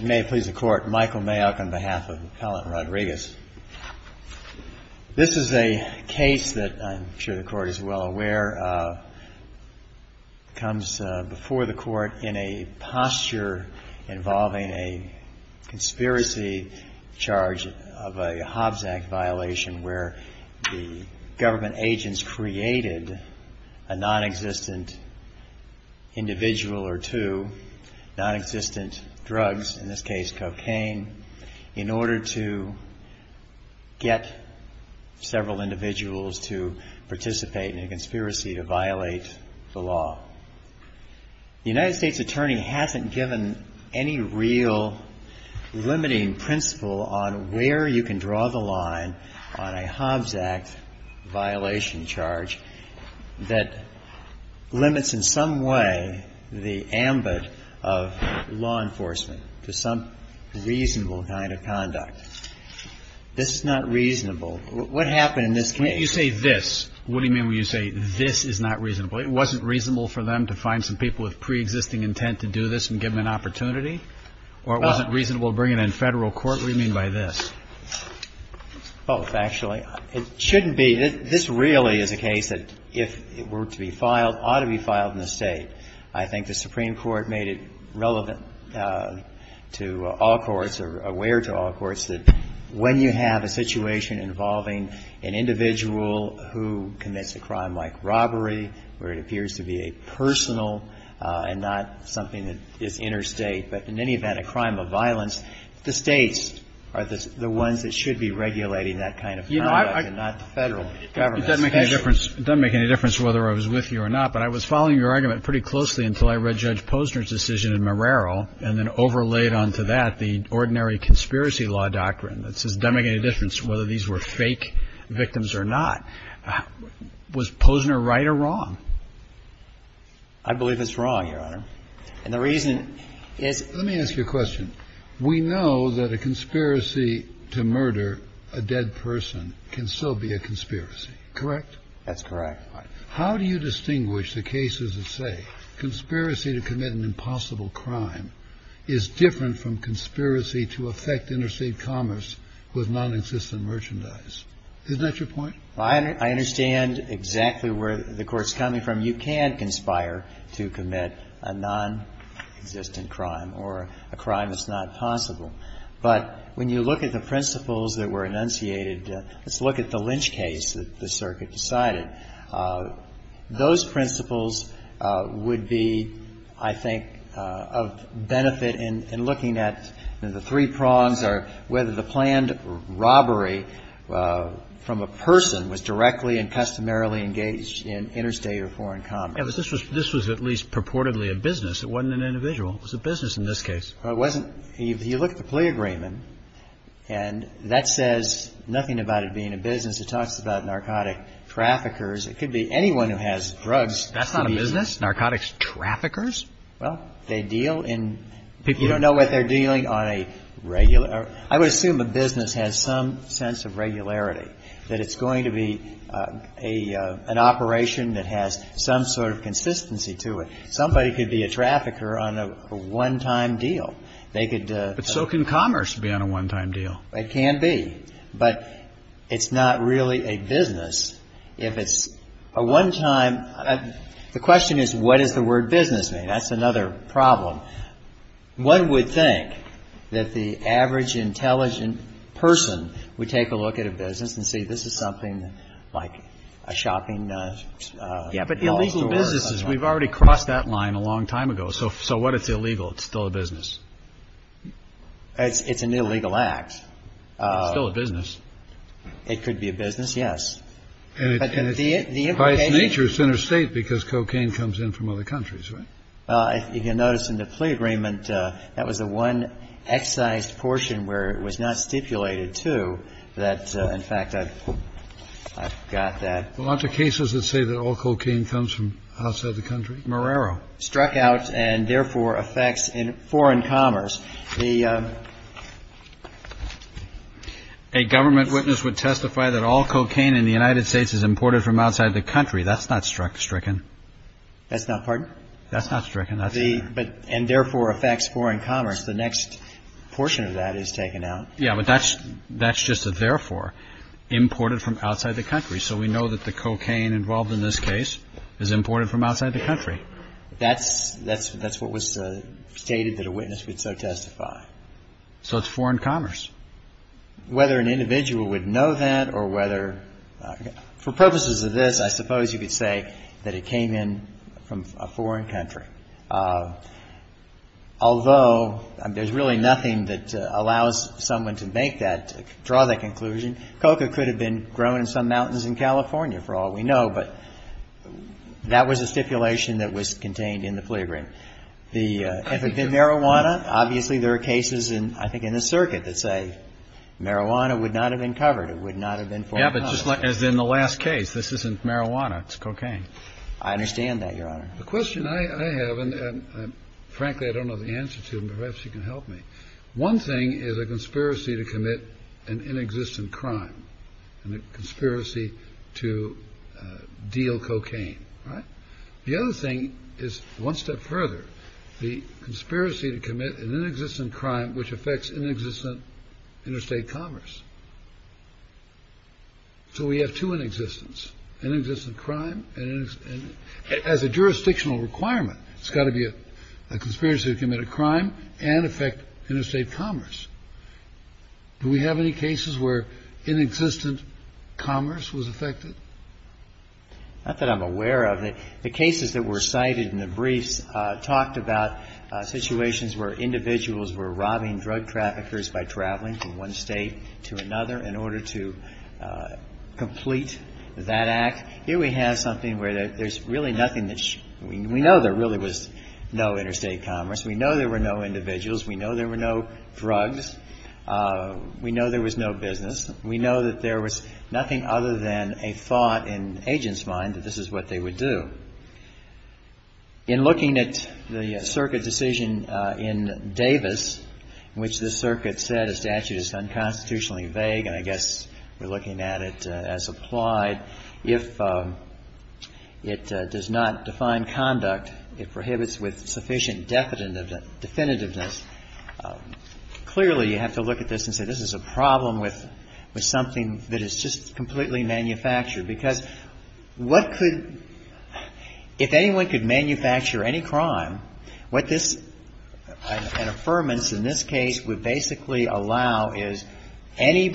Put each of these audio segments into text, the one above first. May it please the Court, Michael Mayock on behalf of Appellant Rodriguez. This is a case that I'm sure the Court is well aware of. It comes before the Court in a posture involving a conspiracy charge of a Hobbs Act violation where the government agents created a non-existent individual or two, non-existent drugs, in this case cocaine, in order to get several individuals to participate in a conspiracy to violate the law. The United States attorney hasn't given any real limiting principle on where you can draw the line on a Hobbs Act violation charge that limits in some way the ambit of law enforcement to some reasonable kind of conduct. This is not reasonable. What happened in this case? What do you mean when you say this is not reasonable? It wasn't reasonable for them to find some people with preexisting intent to do this and give them an opportunity? Or it wasn't reasonable to bring it in Federal court? What do you mean by this? Both, actually. It shouldn't be. This really is a case that if it were to be filed, ought to be filed in the State. I think the Supreme Court made it relevant to all courts or aware to all courts that when you have a situation involving an individual who commits a crime like robbery, where it appears to be a personal and not something that is interstate, but in any event, a crime of violence, the States are the ones that should be regulating that kind of conduct and not the Federal government. It doesn't make any difference whether I was with you or not, but I was following your argument pretty closely until I read Judge Posner's decision in Marrero, and then overlaid onto that the ordinary conspiracy law doctrine that says it doesn't make any difference whether these were fake victims or not. Was Posner right or wrong? I believe it's wrong, Your Honor. And the reason is Let me ask you a question. We know that a conspiracy to murder a dead person can still be a conspiracy, correct? That's correct. How do you distinguish the cases that say conspiracy to commit an impossible crime is different from conspiracy to affect interstate commerce with non-existent merchandise? Isn't that your point? I understand exactly where the Court's coming from. You can conspire to commit a non-existent crime or a crime that's not possible. But when you look at the principles that were enunciated, let's look at the Lynch case that the circuit decided. Those principles would be, I think, of benefit in looking at the three prongs or whether the planned robbery from a person was directly and customarily engaged in interstate or foreign commerce. Yeah, but this was at least purportedly a business. It wasn't an individual. It was a business in this case. Well, it wasn't. If you look at the plea agreement, and that says nothing about it being a business. It talks about narcotic traffickers. It could be anyone who has drugs. That's not a business? Narcotics traffickers? Well, they deal in you don't know what they're dealing on a regular. I would assume a business has some sense of regularity, that it's going to be an operation that has some sort of consistency to it. Somebody could be a trafficker on a one-time deal. They could. But so can commerce be on a one-time deal. It can be. But it's not really a business if it's a one-time. The question is, what does the word business mean? That's another problem. One would think that the average intelligent person would take a look at a business and say, this is something like a shopping mall. So it's a business. It's an illegal act. But illegal businesses, we've already crossed that line a long time ago. So so what? It's illegal. It's still a business. It's an illegal act. Still a business. It could be a business. Yes. And the highest nature is interstate because cocaine comes in from other countries. You can notice in the plea agreement that was the one excise portion where it was not stipulated to that. In fact, I've got that a lot of cases that say that all cocaine comes from outside the country. Marrero struck out and therefore affects foreign commerce. The a government witness would testify that all cocaine in the United States is imported from outside the country. That's not struck stricken. That's not part. That's not stricken. But and therefore affects foreign commerce. The next portion of that is taken out. Yeah, but that's that's just a therefore imported from outside the country. So we know that the cocaine involved in this case is imported from outside the country. That's that's that's what was stated that a witness would so testify. So it's foreign commerce. Whether an individual would know that or whether for purposes of this, I suppose you could say that it came in from a foreign country. Although there's really nothing that allows someone to make that draw that conclusion. Coca could have been grown in some mountains in California for all we know. But that was a stipulation that was contained in the plea agreement. The marijuana. Obviously, there are cases in, I think, in the circuit that say marijuana would not have been covered. It would not have been. Yeah, but just as in the last case, this isn't marijuana. It's cocaine. I understand that your honor. The question I have, and frankly, I don't know the answer to perhaps you can help me. One thing is a conspiracy to commit an inexistent crime and a conspiracy to deal cocaine. Right. The other thing is one step further. The conspiracy to commit an inexistent crime, which affects inexistent interstate commerce. So we have to an existence and existent crime. And as a jurisdictional requirement, it's got to be a conspiracy to commit a crime and affect interstate commerce. Do we have any cases where inexistent commerce was affected? Not that I'm aware of. The cases that were cited in the briefs talked about situations where individuals were robbing drug traffickers by traveling from one state to another in order to complete that act. Here we have something where there's really nothing that we know there really was no interstate commerce. We know there were no individuals. We know there were no drugs. We know there was no business. We know that there was nothing other than a thought in agents' mind that this is what they would do. In looking at the circuit decision in Davis, which the circuit said a statute is unconstitutionally vague, and I guess we're looking at it as applied. If it does not define conduct, it prohibits with sufficient definitiveness. Clearly, you have to look at this and say this is a problem with something that is just completely manufactured. Because what could, if anyone could manufacture any crime, what this, an affirmance in this case, would basically allow is any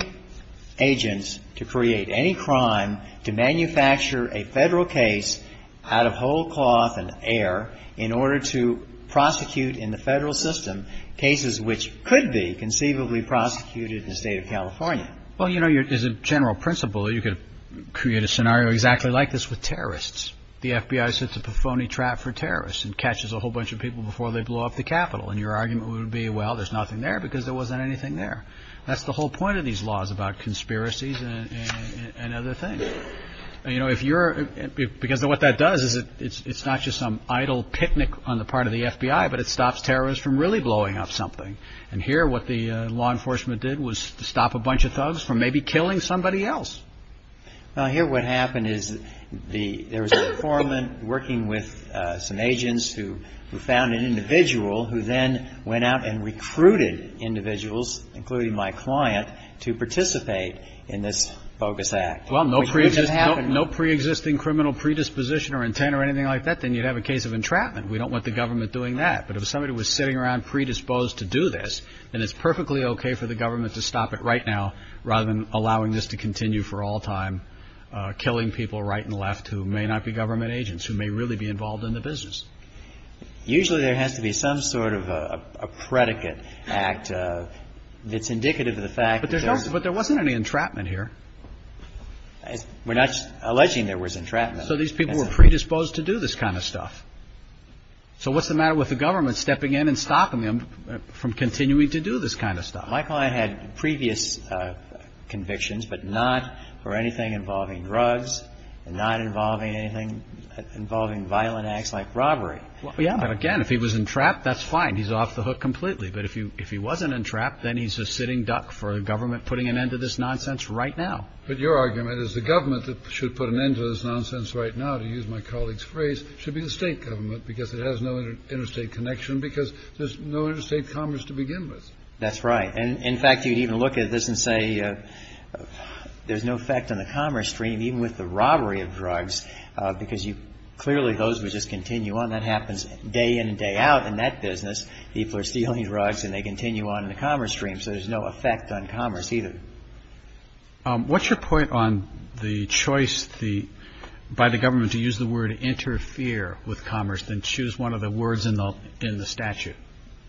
agents to create any crime to manufacture a Federal case out of whole cloth and air in order to prosecute in the Federal system cases which could be conceivably prosecuted in the state of California. Well, you know, as a general principle, you could create a scenario exactly like this with terrorists. The FBI sets up a phony trap for terrorists and catches a whole bunch of people before they blow up the Capitol. And your argument would be, well, there's nothing there because there wasn't anything there. That's the whole point of these laws about conspiracies and other things. You know, if you're, because what that does is it's not just some idle picnic on the part of the FBI, but it stops terrorists from really blowing up something. And here what the law enforcement did was stop a bunch of thugs from maybe killing somebody else. Now, here what happened is the, there was a foreman working with some agents who found an individual who then went out and recruited individuals, including my client, to participate in this bogus act. Well, no preexisting criminal predisposition or intent or anything like that, then you'd have a case of entrapment. We don't want the government doing that. But if somebody was sitting around predisposed to do this, then it's perfectly OK for the government to stop it right now rather than allowing this to continue for all time, killing people right and left who may not be government agents, who may really be involved in the business. Usually there has to be some sort of a predicate act that's indicative of the fact that there's... We're not alleging there was entrapment. So these people were predisposed to do this kind of stuff. So what's the matter with the government stepping in and stopping them from continuing to do this kind of stuff? My client had previous convictions, but not for anything involving drugs and not involving anything involving violent acts like robbery. Yeah. But again, if he was entrapped, that's fine. He's off the hook completely. But if he wasn't entrapped, then he's a sitting duck for a government putting an end to this nonsense right now. But your argument is the government that should put an end to this nonsense right now, to use my colleague's phrase, should be the state government because it has no interstate connection, because there's no interstate commerce to begin with. That's right. And in fact, you'd even look at this and say there's no effect on the commerce stream, even with the robbery of drugs, because you clearly those would just continue on. That happens day in and day out in that business. People are stealing drugs and they continue on in the commerce stream. So there's no effect on commerce either. Thank you. What's your point on the choice by the government to use the word interfere with commerce than choose one of the words in the statute?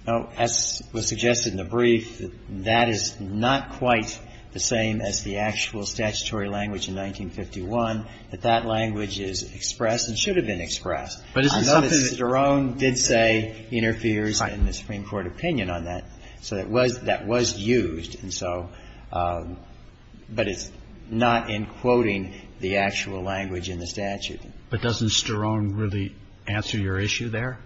As was suggested in the brief, that is not quite the same as the actual statutory language in 1951, that that language is expressed and should have been expressed. But it's not. Cedrone did say interferes in the Supreme Court opinion on that. So that was used. But it's not in quoting the actual language in the statute. But doesn't Cedrone really answer your issue there?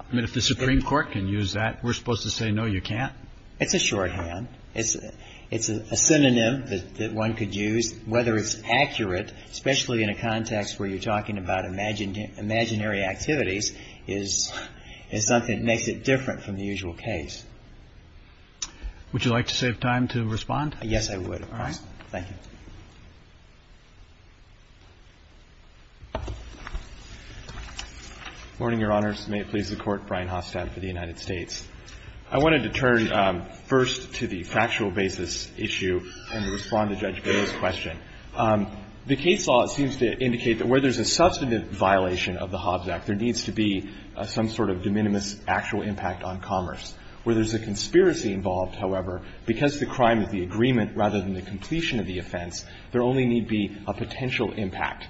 I mean, if the Supreme Court can use that, we're supposed to say, no, you can't. It's a shorthand. It's a synonym that one could use, whether it's accurate, especially in a context where you're talking about imaginary activities, is something that makes it different from the usual case. Would you like to save time to respond? Yes, I would, of course. All right. Thank you. Good morning, Your Honors. May it please the Court. Brian Hostad for the United States. I wanted to turn first to the factual basis issue and respond to Judge Boehner's question. The case law seems to indicate that where there's a substantive violation of the Hobbs Act, there needs to be some sort of de minimis actual impact on commerce. Where there's a conspiracy involved, however, because the crime is the agreement rather than the completion of the offense, there only need be a potential impact.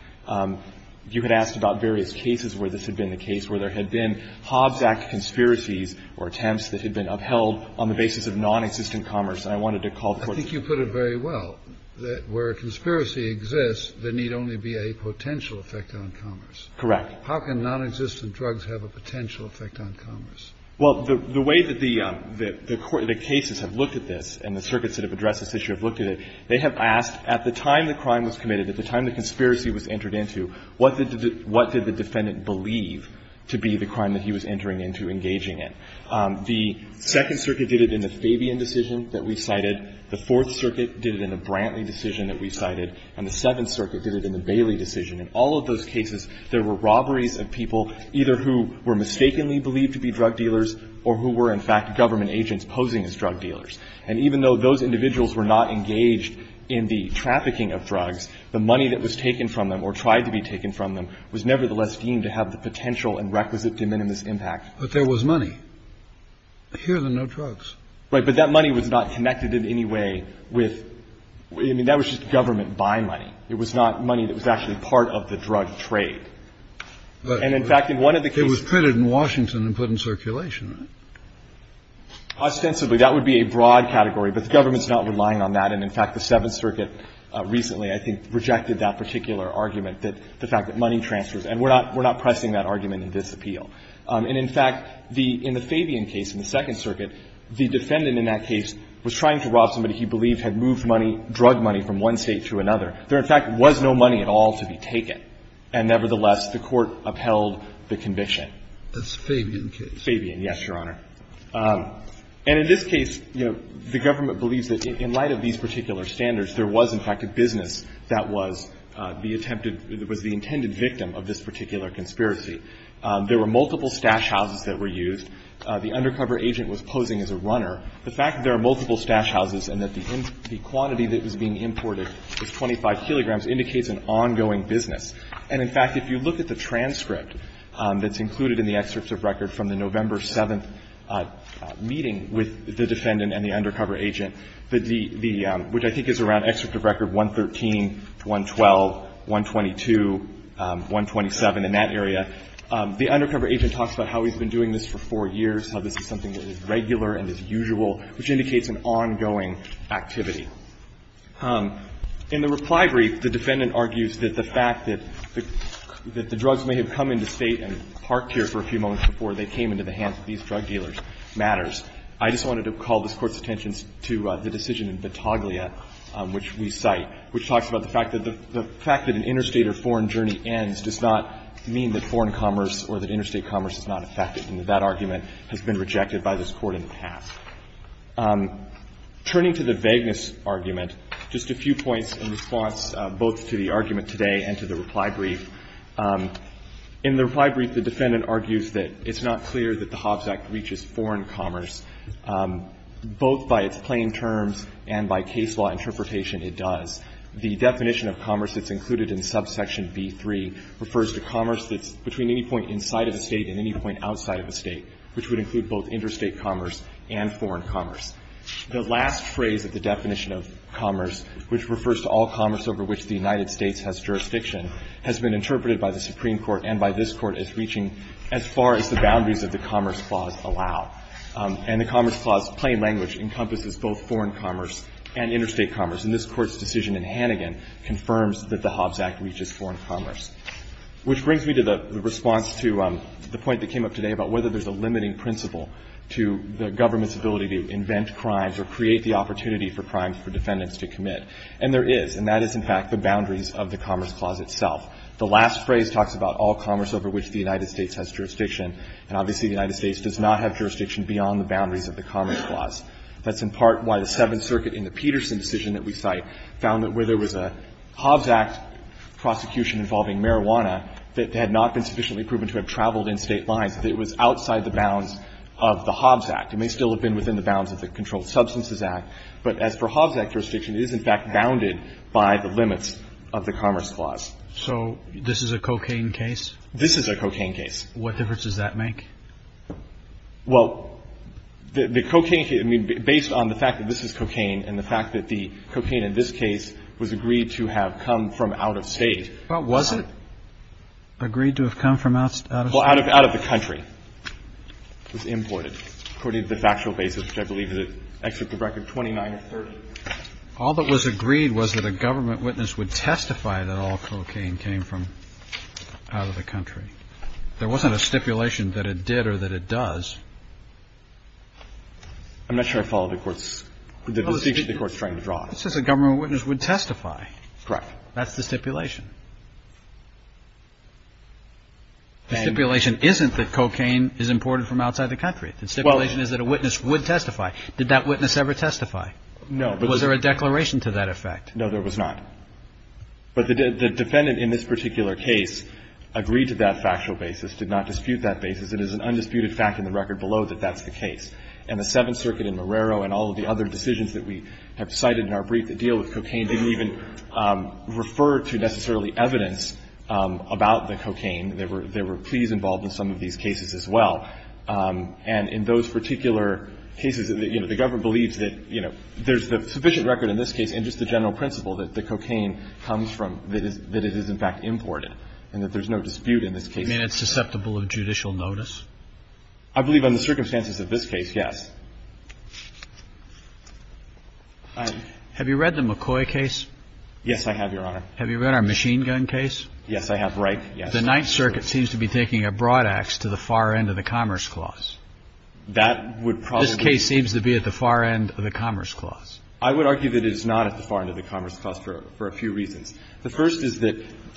You had asked about various cases where this had been the case, where there had been Hobbs Act conspiracies or attempts that had been upheld on the basis of nonexistent commerce. And I wanted to call the Court's view. I think you put it very well, that where a conspiracy exists, there need only be a potential effect on commerce. Correct. How can nonexistent drugs have a potential effect on commerce? Well, the way that the Court, the cases have looked at this, and the circuits that have addressed this issue have looked at it, they have asked at the time the crime was committed, at the time the conspiracy was entered into, what did the defendant believe to be the crime that he was entering into engaging in? The Second Circuit did it in the Fabian decision that we cited. The Fourth Circuit did it in the Brantley decision that we cited. And the Seventh Circuit did it in the Bailey decision. In all of those cases, there were robberies of people either who were mistakenly believed to be drug dealers or who were, in fact, government agents posing as drug dealers. And even though those individuals were not engaged in the trafficking of drugs, the money that was taken from them or tried to be taken from them was nevertheless deemed to have the potential and requisite de minimis impact. But there was money. Here, there are no drugs. Right. But that money was not connected in any way with – I mean, that was just government buying money. It was not money that was actually part of the drug trade. And, in fact, in one of the cases – But it was printed in Washington and put in circulation, right? Ostensibly, that would be a broad category. But the government is not relying on that. And, in fact, the Seventh Circuit recently, I think, rejected that particular argument, the fact that money transfers. And we're not pressing that argument in this appeal. And, in fact, in the Fabian case, in the Second Circuit, the defendant in that case was trying to rob somebody he believed had moved money, drug money, from one State to another. There, in fact, was no money at all to be taken. And, nevertheless, the Court upheld the conviction. That's Fabian case. Fabian, yes, Your Honor. And in this case, you know, the government believes that in light of these particular standards, there was, in fact, a business that was the attempted – was the intended victim of this particular conspiracy. There were multiple stash houses that were used. The undercover agent was posing as a runner. The fact that there are multiple stash houses and that the quantity that was being And, in fact, if you look at the transcript that's included in the excerpt of record from the November 7th meeting with the defendant and the undercover agent, the – the – which I think is around excerpt of record 113, 112, 122, 127, and that area, the undercover agent talks about how he's been doing this for four years, how this is something that is regular and is usual, which indicates an ongoing activity. In the reply brief, the defendant argues that the fact that the drugs may have come into State and parked here for a few moments before they came into the hands of these drug dealers matters. I just wanted to call this Court's attention to the decision in Vitaglia, which we cite, which talks about the fact that the fact that an interstate or foreign journey ends does not mean that foreign commerce or that interstate commerce is not affected, and that that argument has been rejected by this Court in the past. Turning to the vagueness argument, just a few points in response both to the argument today and to the reply brief. In the reply brief, the defendant argues that it's not clear that the Hobbs Act reaches foreign commerce. Both by its plain terms and by case law interpretation, it does. The definition of commerce that's included in subsection B-3 refers to commerce that's between any point inside of a State and any point outside of a State, which would include both interstate commerce and foreign commerce. The last phrase of the definition of commerce, which refers to all commerce over which the United States has jurisdiction, has been interpreted by the Supreme Court and by this Court as reaching as far as the boundaries of the Commerce Clause allow. And the Commerce Clause plain language encompasses both foreign commerce and interstate commerce, and this Court's decision in Hannigan confirms that the Hobbs Act reaches foreign commerce. Which brings me to the response to the point that came up today about whether there's a limiting principle to the government's ability to invent crimes or create the opportunity for crimes for defendants to commit. And there is, and that is in fact the boundaries of the Commerce Clause itself. The last phrase talks about all commerce over which the United States has jurisdiction, and obviously the United States does not have jurisdiction beyond the boundaries of the Commerce Clause. That's in part why the Seventh Circuit in the Peterson decision that we cite found that where there was a Hobbs Act prosecution involving marijuana that had not been within the bounds of the Hobbs Act. It may still have been within the bounds of the Controlled Substances Act, but as for Hobbs Act jurisdiction, it is in fact bounded by the limits of the Commerce Clause. So this is a cocaine case? This is a cocaine case. What difference does that make? Well, the cocaine case, I mean, based on the fact that this is cocaine and the fact that the cocaine in this case was agreed to have come from out of State. Well, was it agreed to have come from out of State? Well, out of the country. It was imported. According to the factual basis, which I believe is an excerpt of Record 29 or 30. All that was agreed was that a government witness would testify that all cocaine came from out of the country. There wasn't a stipulation that it did or that it does. I'm not sure I follow the Court's, the distinction the Court's trying to draw. It says a government witness would testify. Correct. That's the stipulation. The stipulation isn't that cocaine is imported from outside the country. The stipulation is that a witness would testify. Did that witness ever testify? No. Was there a declaration to that effect? No, there was not. But the defendant in this particular case agreed to that factual basis, did not dispute that basis. It is an undisputed fact in the Record below that that's the case. And the Seventh Circuit in Marrero and all of the other decisions that we have cited in our brief that deal with cocaine didn't even refer to necessarily the fact that And so there's no particular evidence about the cocaine. There were pleas involved in some of these cases as well. And in those particular cases, you know, the government believes that, you know, there's the sufficient record in this case and just the general principle that the cocaine comes from, that it is in fact imported, and that there's no dispute in this case. I mean, it's susceptible of judicial notice? I believe on the circumstances of this case, yes. Have you read the McCoy case? Yes, I have, Your Honor. Have you read our machine gun case? Yes, I have. Right. Yes. The Ninth Circuit seems to be taking a broad axe to the far end of the Commerce Clause. That would probably. This case seems to be at the far end of the Commerce Clause. I would argue that it is not at the far end of the Commerce Clause for a few reasons. The first is that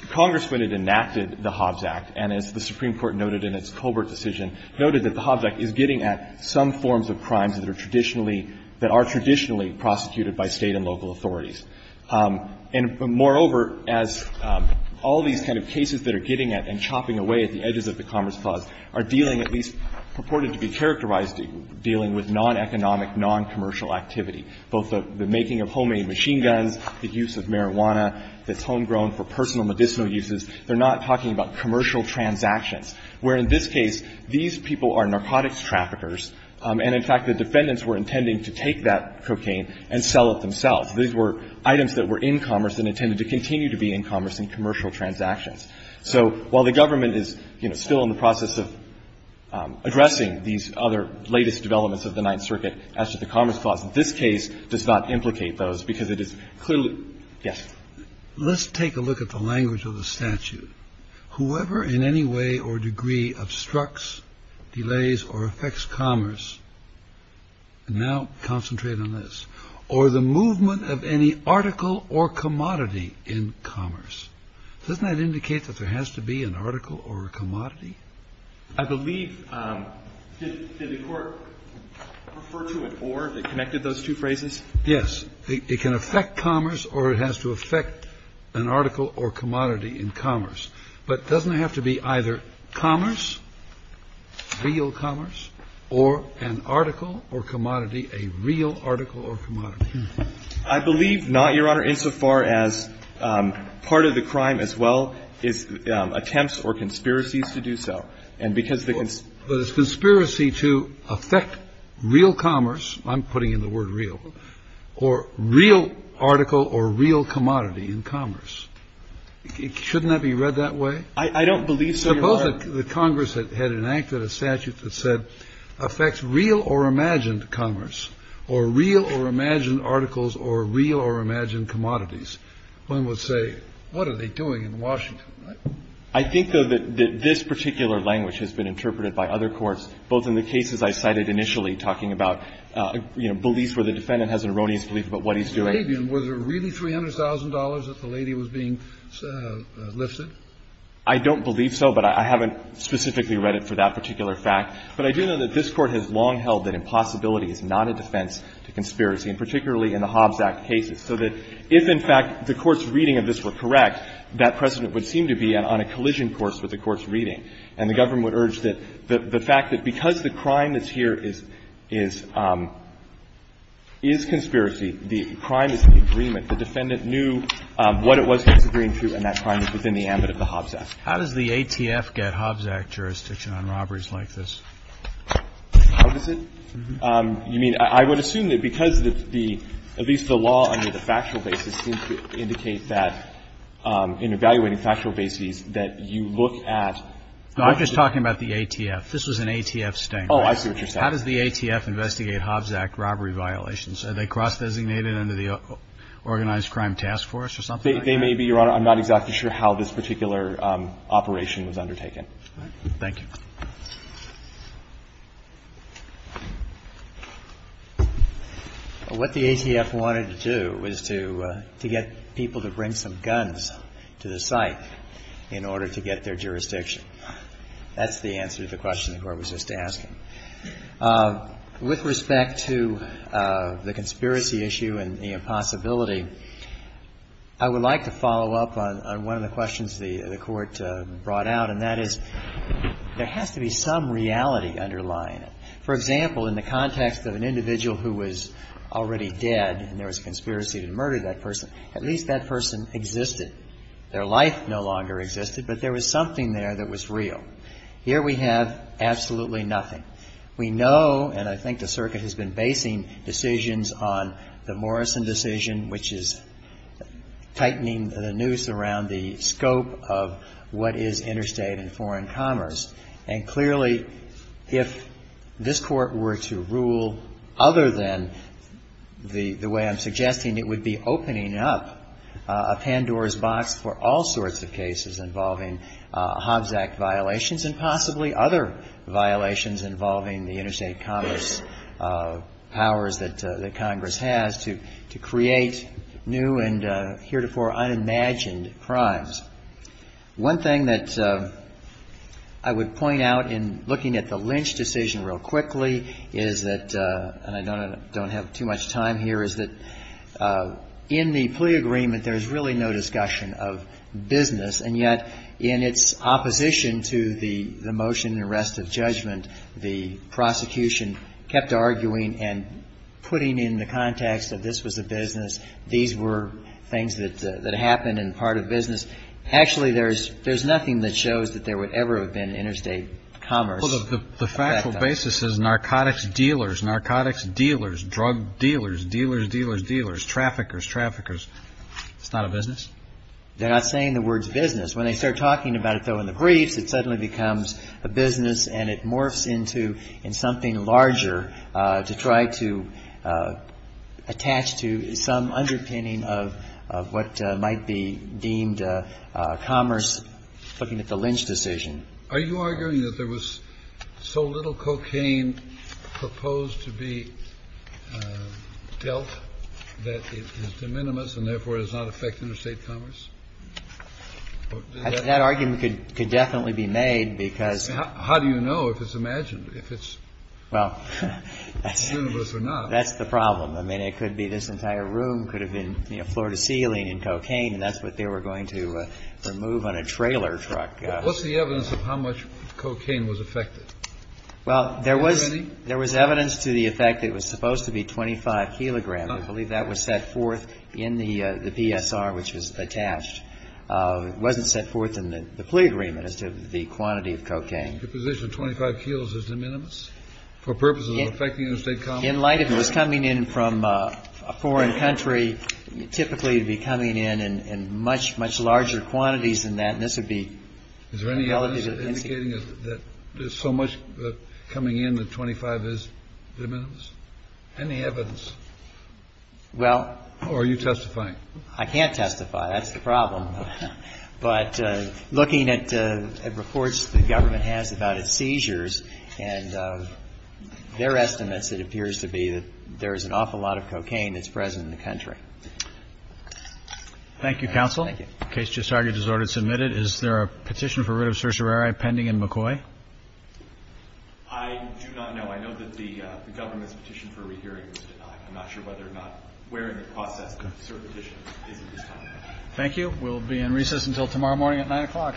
Congress, when it enacted the Hobbs Act, and as the Supreme Court noted in its Colbert decision, noted that the Hobbs Act is getting at some forms of crimes that are traditionally – that are traditionally prosecuted by State and local authorities. And moreover, as all these kind of cases that are getting at and chopping away at the edges of the Commerce Clause are dealing, at least purported to be characterized dealing with non-economic, non-commercial activity, both the making of homemade machine guns, the use of marijuana that's homegrown for personal medicinal uses, they're not talking about commercial transactions, where in this case these people are narcotics traffickers, and, in fact, the defendants were intending to take that cocaine and sell it themselves. These were items that were in commerce and intended to continue to be in commerce in commercial transactions. So while the government is, you know, still in the process of addressing these other latest developments of the Ninth Circuit as to the Commerce Clause, this case does not implicate those because it is clearly – yes. Let's take a look at the language of the statute. Whoever in any way or degree obstructs, delays, or affects commerce – and now concentrate on this – or the movement of any article or commodity in commerce, doesn't that indicate that there has to be an article or a commodity? I believe – did the Court refer to an or that connected those two phrases? Yes. It can affect commerce or it has to affect an article or commodity in commerce. But doesn't it have to be either commerce, real commerce, or an article or commodity, a real article or commodity? I believe not, Your Honor, insofar as part of the crime as well is attempts or conspiracies to do so. And because the – But it's conspiracy to affect real commerce – I'm putting in the word real – or real article or real commodity in commerce. Shouldn't that be read that way? I don't believe so, Your Honor. Suppose that Congress had enacted a statute that said affects real or imagined commerce or real or imagined articles or real or imagined commodities. One would say, what are they doing in Washington? I think, though, that this particular language has been interpreted by other courts, both in the cases I cited initially, talking about, you know, beliefs where the defendant has an erroneous belief about what he's doing. Was it really $300,000 that the lady was being lifted? I don't believe so, but I haven't specifically read it for that particular fact. But I do know that this Court has long held that impossibility is not a defense to conspiracy, and particularly in the Hobbs Act cases, so that if, in fact, the Court's And the fact is that the defendant is doing something that seems to be on a collision course with the Court's reading. And the Government would urge that the fact that because the crime that's here is conspiracy, the crime is in agreement, the defendant knew what it was he was agreeing to, and that crime is within the ambit of the Hobbs Act. How does the ATF get Hobbs Act jurisdiction on robberies like this? How does it? You mean, I would assume that because the, at least the law under the factual basis seems to indicate that, in evaluating factual bases, that you look at No, I'm just talking about the ATF. This was an ATF statement. Oh, I see what you're saying. How does the ATF investigate Hobbs Act robbery violations? They may be, Your Honor. I'm not exactly sure how this particular operation was undertaken. All right. Thank you. What the ATF wanted to do was to get people to bring some guns to the site in order to get their jurisdiction. That's the answer to the question the Court was just asking. With respect to the conspiracy issue and the impossibility, I would like to follow up on one of the questions the Court brought out, and that is there has to be some reality underlying it. For example, in the context of an individual who was already dead and there was a conspiracy to murder that person, at least that person existed. Their life no longer existed, but there was something there that was real. Here we have absolutely nothing. We know, and I think the Circuit has been basing decisions on the Morrison decision, which is tightening the noose around the scope of what is interstate and foreign commerce. And clearly, if this Court were to rule other than the way I'm suggesting, it would be opening up a Pandora's box for all sorts of cases involving Hobbs Act violations and possibly other violations involving the interstate commerce powers that Congress has to create new and heretofore unimagined crimes. One thing that I would point out in looking at the Lynch decision real quickly is that, and I don't have too much time here, is that in the plea agreement, there is really no discussion of business, and yet in its opposition to the motion in the rest of judgment, the prosecution kept arguing and putting in the context that this was a business, these were things that happened and part of business. Actually, there's nothing that shows that there would ever have been interstate commerce. The factual basis is narcotics dealers, narcotics dealers, drug dealers, dealers, dealers, dealers, traffickers, traffickers. It's not a business? They're not saying the word business. When they start talking about it, though, in the briefs, it suddenly becomes a business and it morphs into something larger to try to attach to some underpinning of what might be deemed commerce, looking at the Lynch decision. Are you arguing that there was so little cocaine proposed to be dealt that it is de minimis and therefore does not affect interstate commerce? That argument could definitely be made, because How do you know if it's imagined, if it's universe or not? That's the problem. I mean, it could be this entire room could have been floor to ceiling in cocaine and that's what they were going to remove on a trailer truck. What's the evidence of how much cocaine was affected? Well, there was evidence to the effect it was supposed to be 25 kilograms. I believe that was set forth in the PSR, which was attached. It wasn't set forth in the plea agreement as to the quantity of cocaine. The position of 25 kilos is de minimis for purposes of affecting interstate commerce? In light of it was coming in from a foreign country, typically it would be coming in in much, much larger quantities than that. And this would be relative to the incident. Is there any evidence indicating that there's so much coming in that 25 is de minimis? Any evidence? Well. Or are you testifying? I can't testify. That's the problem. But looking at reports the government has about its seizures and their estimates, it appears to be that there is an awful lot of cocaine that's present in the country. Thank you, counsel. Thank you. The case just argued as ordered. Submitted. Is there a petition for writ of certiorari pending in McCoy? I do not know. I know that the government's petition for a rehearing was denied. I'm not sure whether or not wearing a processed cert petition is at this time. Thank you. We'll be in recess until tomorrow morning at 9 o'clock.